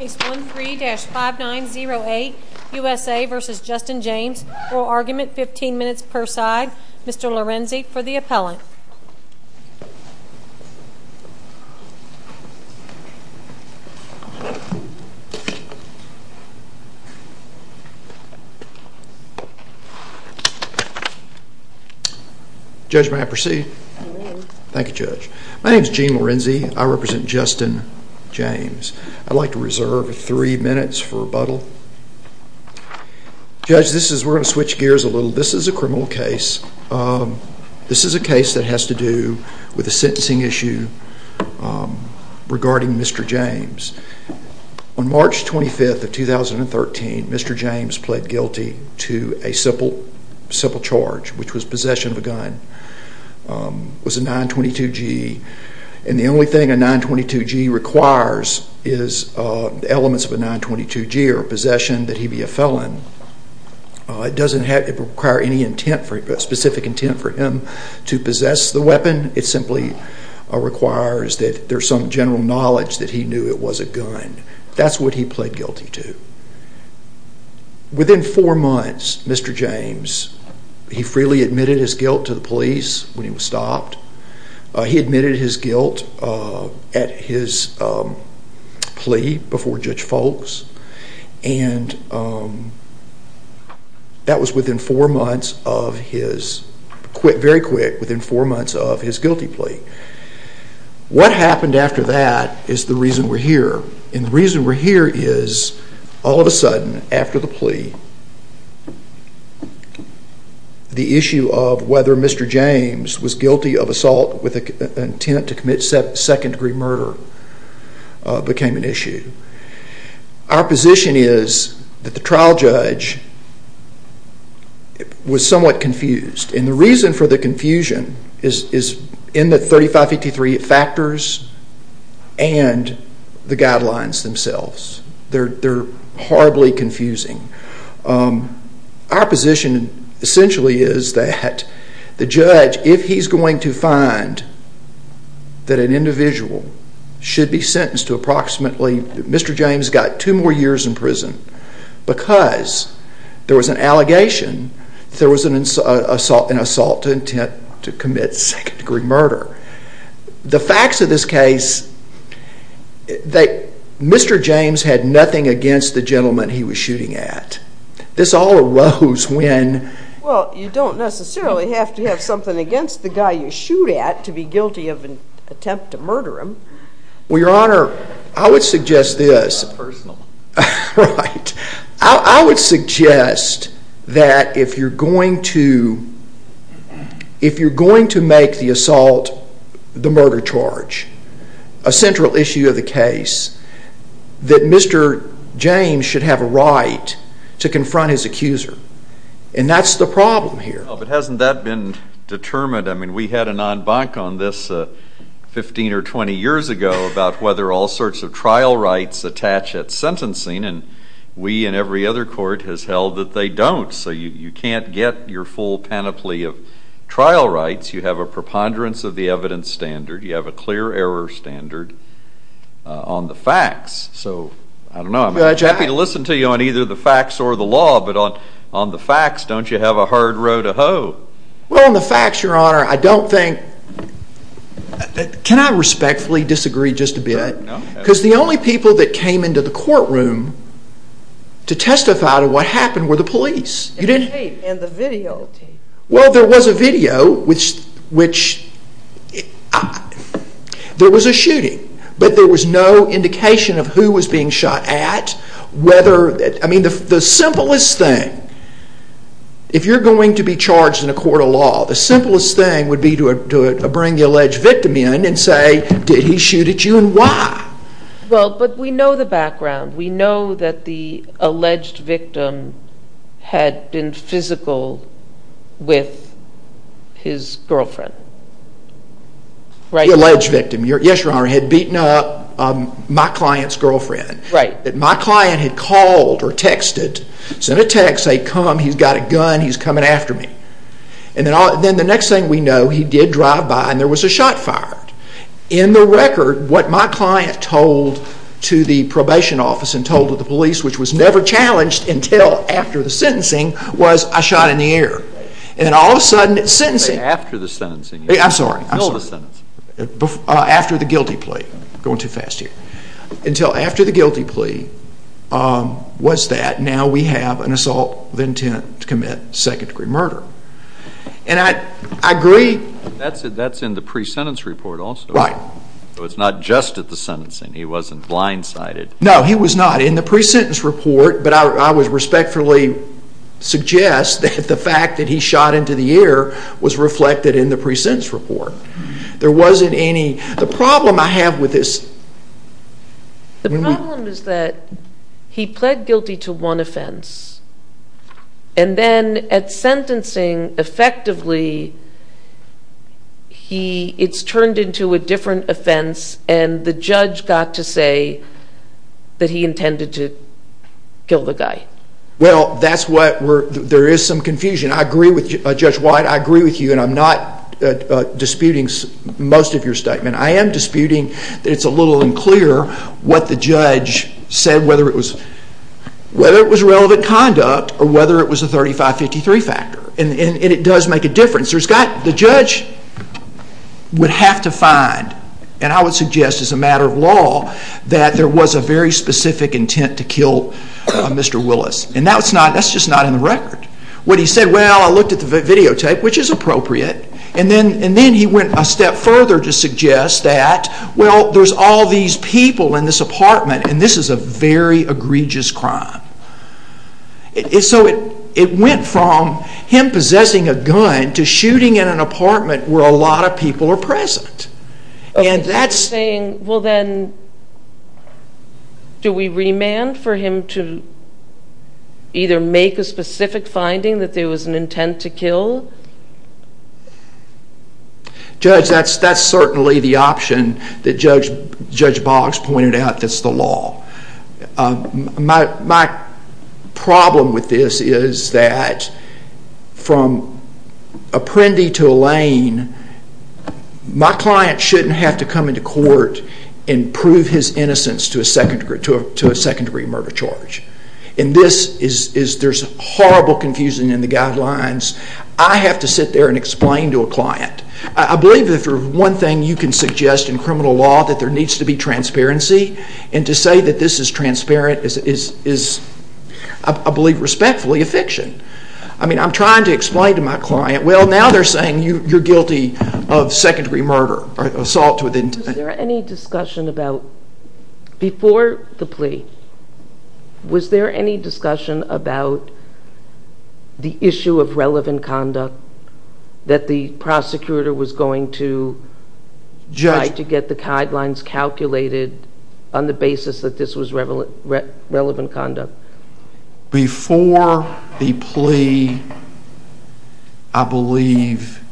Case 13-5908, USA v. Justin James, oral argument, 15 minutes per side. Mr. Lorenzi for the appellant. Judge, may I proceed? Thank you, Judge. My name is Gene Lorenzi. I represent Justin James. I'd like to reserve three minutes for rebuttal. Judge, we're going to switch gears a little. This is a criminal case. This is a case that has to do with a sentencing issue regarding Mr. James. On March 25, 2013, Mr. James pled guilty to a simple charge, which was possession of a gun. It was a 922G. And the only thing a 922G requires is elements of a 922G or possession that he be a felon. It doesn't require any specific intent for him to possess the weapon. It simply requires that there's some general knowledge that he knew it was a gun. That's what he pled guilty to. Within four months, Mr. James, he freely admitted his guilt to the police when he was stopped. He admitted his guilt at his plea before Judge Folks. And that was within four months of his guilty plea. What happened after that is the reason we're here. And the reason we're here is, all of a sudden, after the plea, the issue of whether Mr. James was guilty of assault with intent to commit second-degree murder became an issue. Our position is that the trial judge was somewhat confused. And the reason for the confusion is in the 3553 factors and the guidelines themselves. They're horribly confusing. Our position, essentially, is that the judge, if he's going to find that an individual should be sentenced to approximately, Mr. James got two more years in prison, because there was an allegation that there was an assault with intent to commit second-degree murder. The facts of this case, Mr. James had nothing against the gentleman he was shooting at. This all arose when... Well, you don't necessarily have to have something against the guy you shoot at to be guilty of an attempt to murder him. Well, Your Honor, I would suggest this. That's personal. Right. I would suggest that if you're going to make the assault the murder charge, a central issue of the case, that Mr. James should have a right to confront his accuser. And that's the problem here. Well, but hasn't that been determined? I mean, we had an en banc on this 15 or 20 years ago about whether all sorts of trial rights attach at sentencing. And we and every other court has held that they don't. So you can't get your full panoply of trial rights. You have a preponderance of the evidence standard. You have a clear error standard on the facts. So I don't know. I'm happy to listen to you on either the facts or the law. But on the facts, don't you have a hard row to hoe? Well, on the facts, Your Honor, I don't think... Can I respectfully disagree just a bit? No. Because the only people that came into the courtroom to testify to what happened were the police. And tape. And the video tape. Well, there was a video, which... There was a shooting. But there was no indication of who was being shot at, whether... I mean, the simplest thing, if you're going to be charged in a court of law, the simplest thing would be to bring the alleged victim in and say, did he shoot at you and why? Well, but we know the background. We know that the alleged victim had been physical with his girlfriend. The alleged victim, yes, Your Honor, had beaten up my client's girlfriend. Right. That my client had called or texted, sent a text saying, come, he's got a gun, he's coming after me. And then the next thing we know, he did drive by and there was a shot fired. In the record, what my client told to the probation office and told to the police, which was never challenged until after the sentencing, was, I shot in the ear. And all of a sudden, sentencing... Wait, after the sentencing. I'm sorry. Before the sentencing. After the guilty plea. I'm going too fast here. Until after the guilty plea was that, now we have an assault with intent to commit second-degree murder. And I agree... That's in the pre-sentence report also. Right. So it's not just at the sentencing. He wasn't blindsided. No, he was not. In the pre-sentence report, but I would respectfully suggest that the fact that he shot into the ear was reflected in the pre-sentence report. There wasn't any... The problem I have with this... The problem is that he pled guilty to one offense. And then at sentencing, effectively, it's turned into a different offense and the judge got to say that he intended to kill the guy. Well, that's what... There is some confusion. Judge White, I agree with you and I'm not disputing most of your statement. I am disputing that it's a little unclear what the judge said, whether it was relevant conduct or whether it was a 35-53 factor. And it does make a difference. The judge would have to find, and I would suggest as a matter of law, that there was a very specific intent to kill Mr. Willis. And that's just not in the record. What he said, well, I looked at the videotape, which is appropriate. And then he went a step further to suggest that, well, there's all these people in this apartment and this is a very egregious crime. So it went from him possessing a gun to shooting in an apartment where a lot of people are present. You're saying, well then, do we remand for him to either make a specific finding that there was an intent to kill? Judge, that's certainly the option that Judge Boggs pointed out that's the law. My problem with this is that from Apprendi to Lane, my client shouldn't have to come into court and prove his innocence to a second-degree murder charge. And there's horrible confusion in the guidelines. I have to sit there and explain to a client. I believe that if there's one thing you can suggest in criminal law, that there needs to be transparency. And to say that this is transparent is, I believe respectfully, a fiction. I mean, I'm trying to explain to my client, well, now they're saying you're guilty of second-degree murder or assault with intent. Before the plea, was there any discussion about the issue of relevant conduct that the prosecutor was going to try to get the guidelines calculated on the basis that this was relevant conduct? Before the plea, I believe,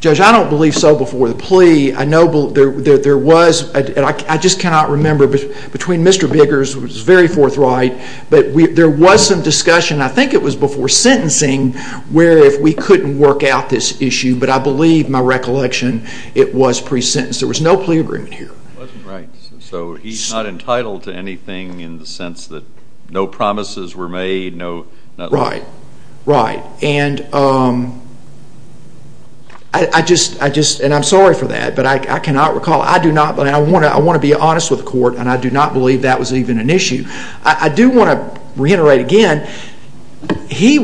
Judge, I don't believe so. Before the plea, I know there was. I just cannot remember. Between Mr. Biggers, it was very forthright. But there was some discussion, I think it was before sentencing, where if we couldn't work out this issue. But I believe, my recollection, it was pre-sentence. There was no plea agreement here. So he's not entitled to anything in the sense that no promises were made. Right. Right. And I just, and I'm sorry for that, but I cannot recall. I do not, and I want to be honest with the court, and I do not believe that was even an issue. I do want to reiterate again, this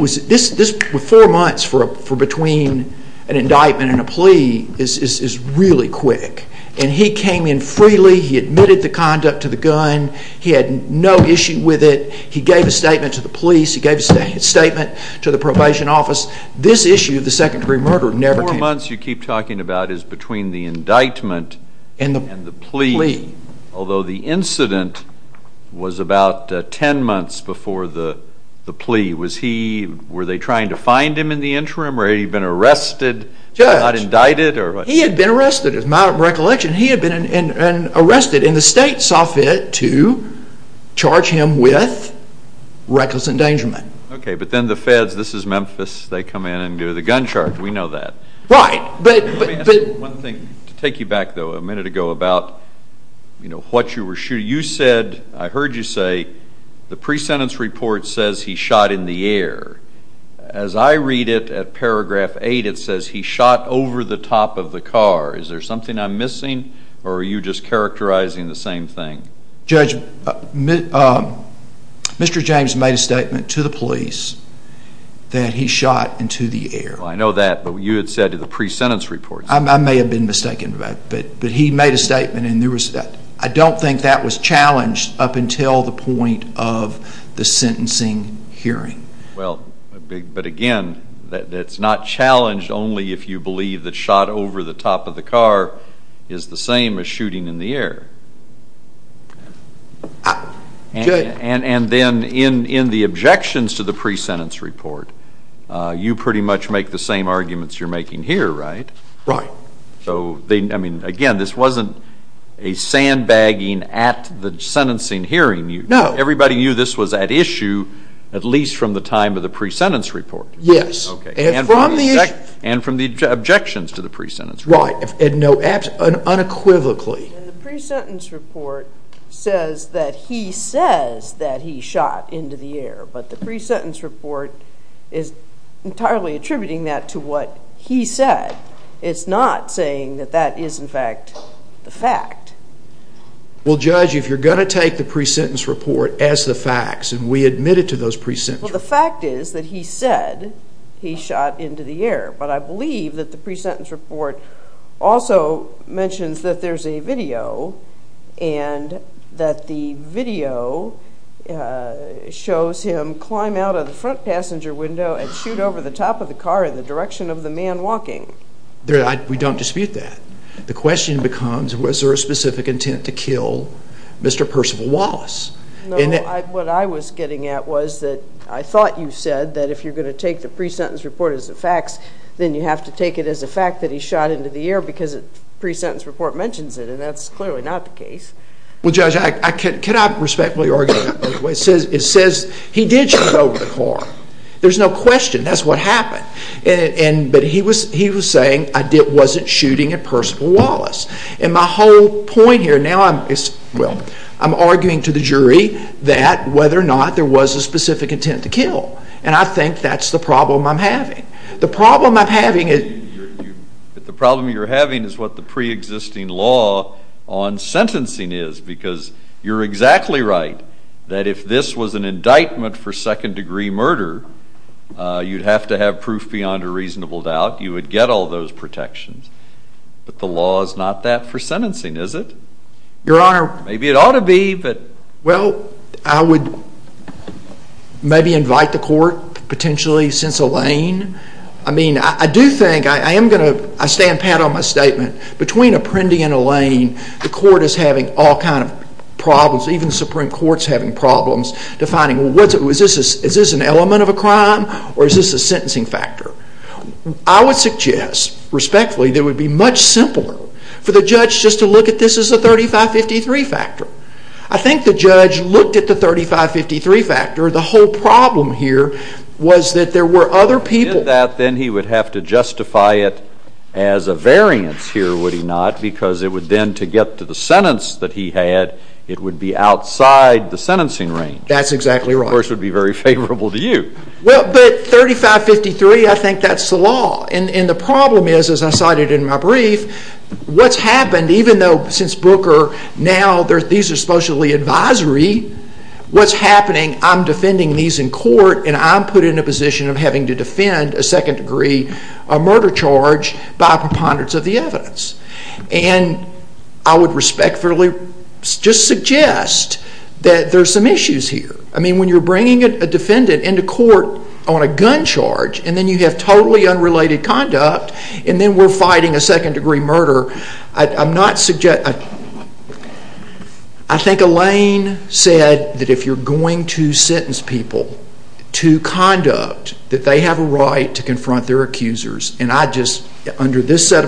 was four months for between an indictment and a plea is really quick. And he came in freely. He admitted the conduct to the gun. He had no issue with it. He gave a statement to the police. He gave a statement to the probation office. This issue of the second-degree murder never came up. The four months you keep talking about is between the indictment and the plea. And the plea. Although the incident was about 10 months before the plea. Was he, were they trying to find him in the interim, or had he been arrested and not indicted? Judge, he had been arrested. As my recollection, he had been arrested, and the state saw fit to charge him with reckless endangerment. Okay, but then the feds, this is Memphis, they come in and do the gun charge. We know that. Right. Let me ask you one thing to take you back, though, a minute ago about, you know, what you were shooting. You said, I heard you say, the pre-sentence report says he shot in the air. As I read it at paragraph 8, it says he shot over the top of the car. Is there something I'm missing, or are you just characterizing the same thing? Judge, Mr. James made a statement to the police that he shot into the air. I know that, but you had said to the pre-sentence report. I may have been mistaken, but he made a statement, and I don't think that was challenged up until the point of the sentencing hearing. Well, but again, it's not challenged only if you believe that shot over the top of the car is the same as shooting in the air. And then in the objections to the pre-sentence report, you pretty much make the same arguments you're making here, right? Right. So, I mean, again, this wasn't a sandbagging at the sentencing hearing. No. Everybody knew this was at issue at least from the time of the pre-sentence report. Yes. And from the objections to the pre-sentence report. Right. And unequivocally. And the pre-sentence report says that he says that he shot into the air, but the pre-sentence report is entirely attributing that to what he said. Well, Judge, if you're going to take the pre-sentence report as the facts, and we admit it to those pre-sentences. Well, the fact is that he said he shot into the air, but I believe that the pre-sentence report also mentions that there's a video, and that the video shows him climb out of the front passenger window and shoot over the top of the car in the direction of the man walking. We don't dispute that. The question becomes, was there a specific intent to kill Mr. Percival Wallace? No. What I was getting at was that I thought you said that if you're going to take the pre-sentence report as the facts, then you have to take it as a fact that he shot into the air because the pre-sentence report mentions it, and that's clearly not the case. Well, Judge, can I respectfully argue that? It says he did shoot over the car. There's no question. That's what happened. But he was saying it wasn't shooting at Percival Wallace. And my whole point here now is, well, I'm arguing to the jury that whether or not there was a specific intent to kill, and I think that's the problem I'm having. The problem I'm having is... The problem you're having is what the pre-existing law on sentencing is, because you're exactly right that if this was an indictment for second-degree murder, you'd have to have proof beyond a reasonable doubt. You would get all those protections. But the law is not that for sentencing, is it? Your Honor... Maybe it ought to be, but... Well, I would maybe invite the court, potentially, since Elaine. I mean, I do think I am going to... I stand pat on my statement. Between Apprendi and Elaine, the court is having all kinds of problems. Even the Supreme Court is having problems defining, well, is this an element of a crime, or is this a sentencing factor? I would suggest, respectfully, that it would be much simpler for the judge just to look at this as a 3553 factor. I think the judge looked at the 3553 factor. The whole problem here was that there were other people... If he did that, then he would have to justify it as a variance here, would he not? Because it would then, to get to the sentence that he had, it would be outside the sentencing range. That's exactly right. Of course, it would be very favorable to you. Well, but 3553, I think that's the law. And the problem is, as I cited in my brief, what's happened, even though since Brooker, now these are supposedly advisory, what's happening, I'm defending these in court, and I'm put in a position of having to defend a second-degree murder charge by a preponderance of the evidence. And I would respectfully just suggest that there are some issues here. I mean, when you're bringing a defendant into court on a gun charge, and then you have totally unrelated conduct, and then we're fighting a second-degree murder, I'm not suggesting... I think Elaine said that if you're going to sentence people to conduct, that they have a right to confront their accusers. And I just, under this set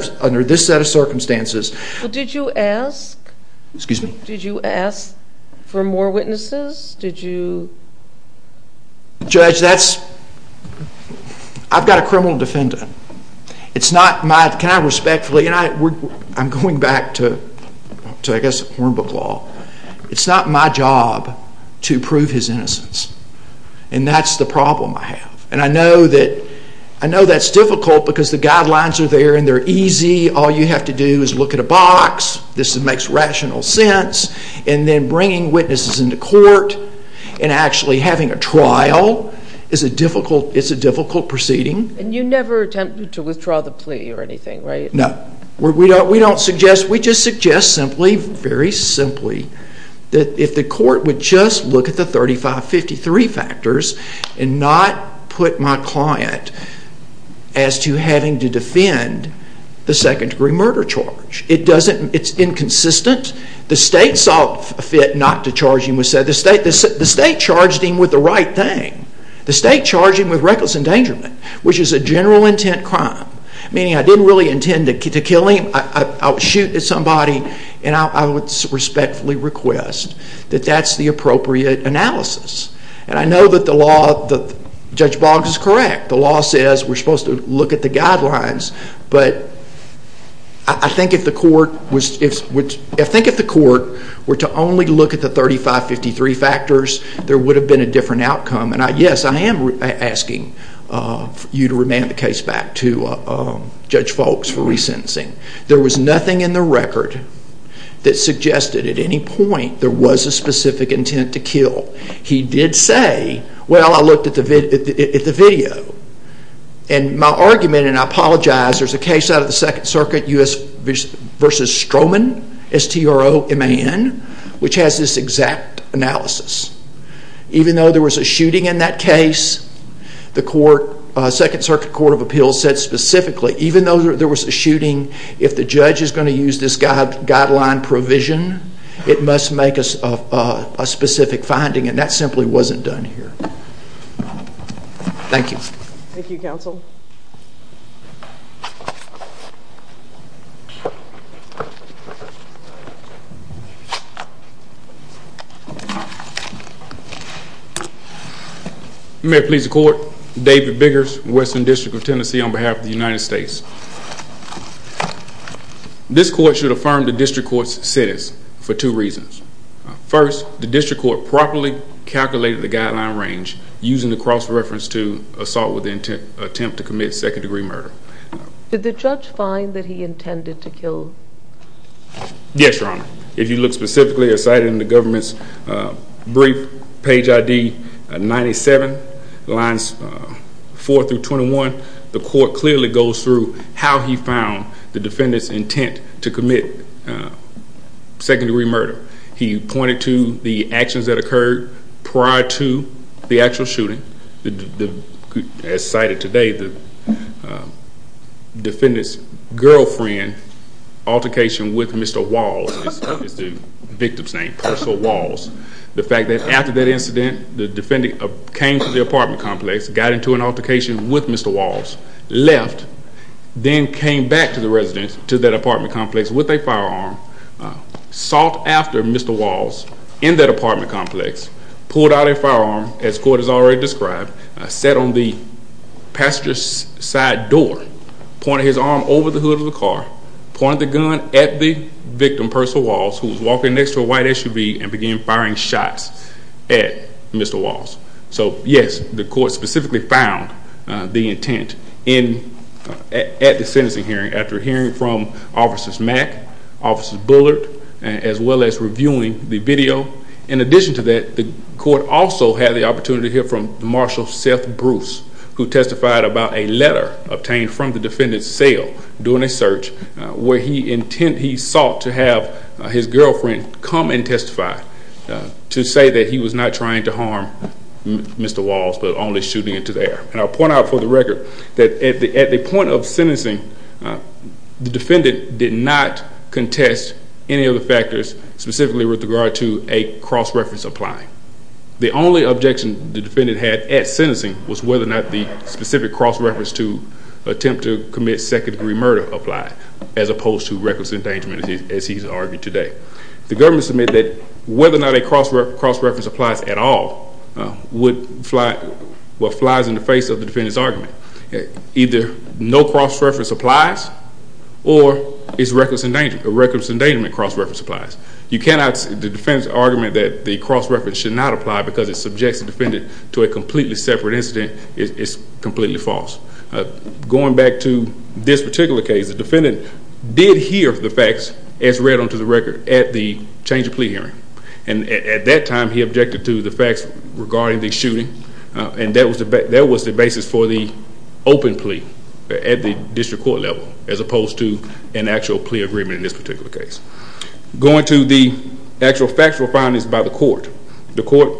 of circumstances... Well, did you ask... Excuse me? Did you ask for more witnesses? Did you... Judge, that's... I've got a criminal defendant. It's not my... Can I respectfully... I'm going back to, I guess, hornbook law. It's not my job to prove his innocence. And that's the problem I have. And I know that's difficult because the guidelines are there and they're easy. All you have to do is look at a box. This makes rational sense. And then bringing witnesses into court and actually having a trial is a difficult proceeding. And you never attempt to withdraw the plea or anything, right? No. We don't suggest... We just suggest simply, very simply, that if the court would just look at the 3553 factors and not put my client as to having to defend the second-degree murder charge. It doesn't... It's inconsistent. The state saw fit not to charge him with... The state charged him with the right thing. The state charged him with reckless endangerment, which is a general intent crime, meaning I didn't really intend to kill him. I would shoot at somebody, and I would respectfully request that that's the appropriate analysis. And I know that the law... Judge Boggs is correct. The law says we're supposed to look at the guidelines. But I think if the court was... I think if the court were to only look at the 3553 factors, there would have been a different outcome. And, yes, I am asking you to remand the case back to Judge Boggs for resentencing. There was nothing in the record that suggested at any point there was a specific intent to kill. He did say, well, I looked at the video. And my argument, and I apologize, there's a case out of the Second Circuit, U.S. v. Stroman, S-T-R-O-M-A-N, which has this exact analysis. Even though there was a shooting in that case, the Second Circuit Court of Appeals said specifically, even though there was a shooting, if the judge is going to use this guideline provision, it must make a specific finding. And that simply wasn't done here. Thank you. Thank you, counsel. May I please the court? David Biggers, Western District of Tennessee, on behalf of the United States. This court should affirm the district court's sentence for two reasons. First, the district court properly calculated the guideline range using the cross-reference to assault with the intent to commit second-degree murder. Did the judge find that he intended to kill? Yes, Your Honor. If you look specifically or cite in the government's brief, page ID 97, lines 4 through 21, the court clearly goes through how he found the defendant's intent to commit second-degree murder. He pointed to the actions that occurred prior to the actual shooting. As cited today, the defendant's girlfriend, altercation with Mr. Walls, it's the victim's name, Purcell Walls, the fact that after that incident the defendant came to the apartment complex, got into an altercation with Mr. Walls, left, then came back to the apartment complex with a firearm, sought after Mr. Walls in that apartment complex, pulled out a firearm, as the court has already described, sat on the passenger's side door, pointed his arm over the hood of the car, pointed the gun at the victim, Purcell Walls, who was walking next to a white SUV and began firing shots at Mr. Walls. So, yes, the court specifically found the intent at the sentencing hearing after hearing from Officers Mack, Officers Bullard, as well as reviewing the video. In addition to that, the court also had the opportunity to hear from Marshall Seth Bruce, who testified about a letter obtained from the defendant's cell during a search where he sought to have his girlfriend come and testify to say that he was not trying to harm Mr. Walls but only shooting into the air. And I'll point out for the record that at the point of sentencing, the defendant did not contest any of the factors, specifically with regard to a cross-reference applying. The only objection the defendant had at sentencing was whether or not the specific cross-reference to attempt to commit second-degree murder applied, as opposed to reckless endangerment, as he's argued today. The government submitted that whether or not a cross-reference applies at all was what flies in the face of the defendant's argument. Either no cross-reference applies or it's reckless endangerment. The defendant's argument that the cross-reference should not apply because it subjects the defendant to a completely separate incident is completely false. Going back to this particular case, the defendant did hear the facts, as read onto the record, at the change of plea hearing. And at that time, he objected to the facts regarding the shooting, and that was the basis for the open plea at the district court level, as opposed to an actual plea agreement in this particular case. Going to the actual factual findings by the court, the court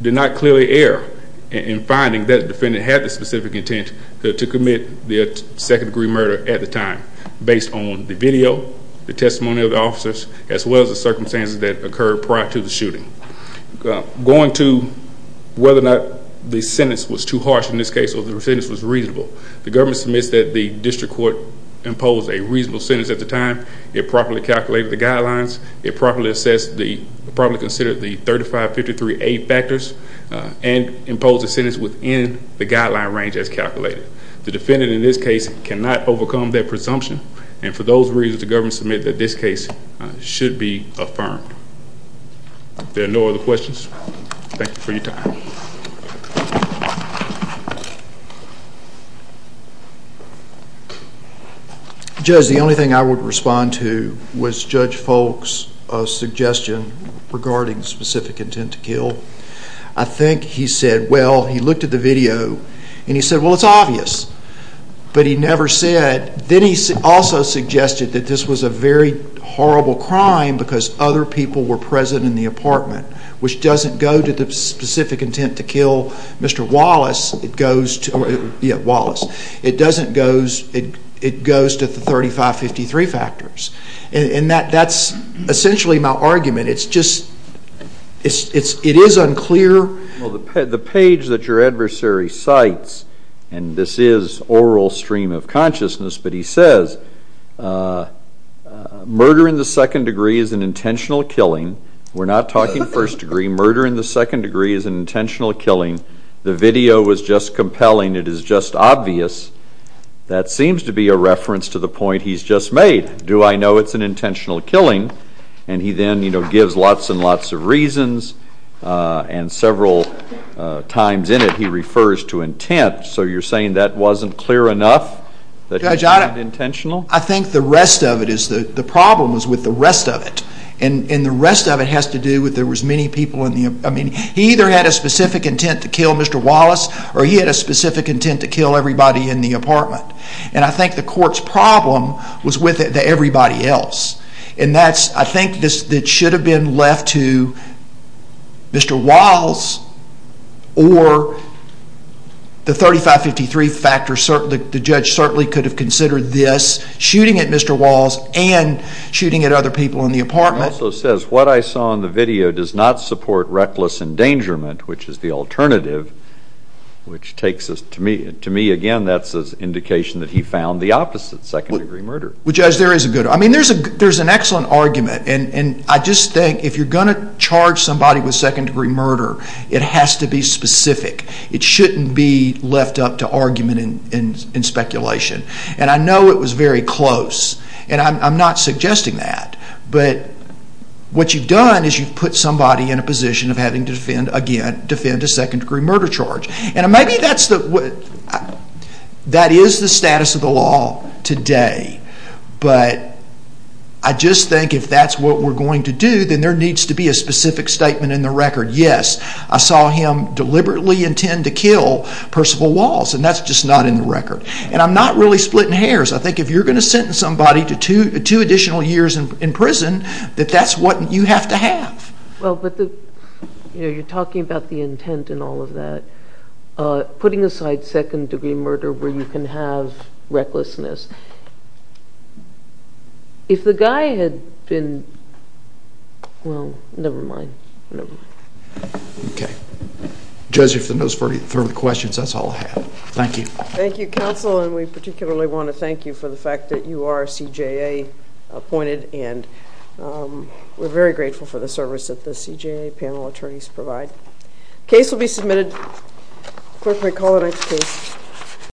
did not clearly err in finding that the defendant had the specific intent to commit the second-degree murder at the time, based on the video, the testimony of the officers, as well as the circumstances that occurred prior to the shooting. Going to whether or not the sentence was too harsh in this case or the sentence was reasonable, the government submits that the district court imposed a reasonable sentence at the time. It properly calculated the guidelines. It properly considered the 3553A factors and imposed a sentence within the guideline range as calculated. The defendant, in this case, cannot overcome that presumption, and for those reasons, the government submits that this case should be affirmed. If there are no other questions, thank you for your time. Judge, the only thing I would respond to was Judge Folk's suggestion regarding specific intent to kill. I think he said, well, he looked at the video, and he said, well, it's obvious, but he never said. Then he also suggested that this was a very horrible crime because other people were present in the apartment, which doesn't go to the specific intent to kill Mr. Wallace. Yeah, Wallace. It goes to the 3553 factors, and that's essentially my argument. It's just it is unclear. Well, the page that your adversary cites, and this is oral stream of consciousness, but he says murder in the second degree is an intentional killing. We're not talking first degree. Murder in the second degree is an intentional killing. The video was just compelling. It is just obvious. That seems to be a reference to the point he's just made. Do I know it's an intentional killing? And he then, you know, gives lots and lots of reasons, and several times in it he refers to intent. So you're saying that wasn't clear enough, that it wasn't intentional? Judge, I think the rest of it is the problem is with the rest of it, and the rest of it has to do with there was many people in the apartment. I mean, he either had a specific intent to kill Mr. Wallace or he had a specific intent to kill everybody in the apartment, and I think the court's problem was with everybody else, and that's I think that should have been left to Mr. Wallace or the 3553 factors. The judge certainly could have considered this, shooting at Mr. Wallace and shooting at other people in the apartment. He also says what I saw in the video does not support reckless endangerment, which is the alternative, which takes us to me. To me, again, that's an indication that he found the opposite, second-degree murder. Well, Judge, there is a good argument. I mean, there's an excellent argument, and I just think if you're going to charge somebody with second-degree murder, it has to be specific. It shouldn't be left up to argument and speculation. And I know it was very close, and I'm not suggesting that, but what you've done is you've put somebody in a position of having to defend, again, defend a second-degree murder charge. And maybe that is the status of the law today, but I just think if that's what we're going to do, then there needs to be a specific statement in the record. Yes, I saw him deliberately intend to kill Percival Wallace, and that's just not in the record. And I'm not really splitting hairs. I think if you're going to sentence somebody to two additional years in prison, that that's what you have to have. Well, but you're talking about the intent in all of that. Putting aside second-degree murder where you can have recklessness, if the guy had been – well, never mind. Okay. Judge, if there are no further questions, that's all I have. Thank you. Thank you, counsel, and we particularly want to thank you for the fact that you are CJA appointed, and we're very grateful for the service that the CJA panel attorneys provide. Case will be submitted. Clerk, may I call the next case?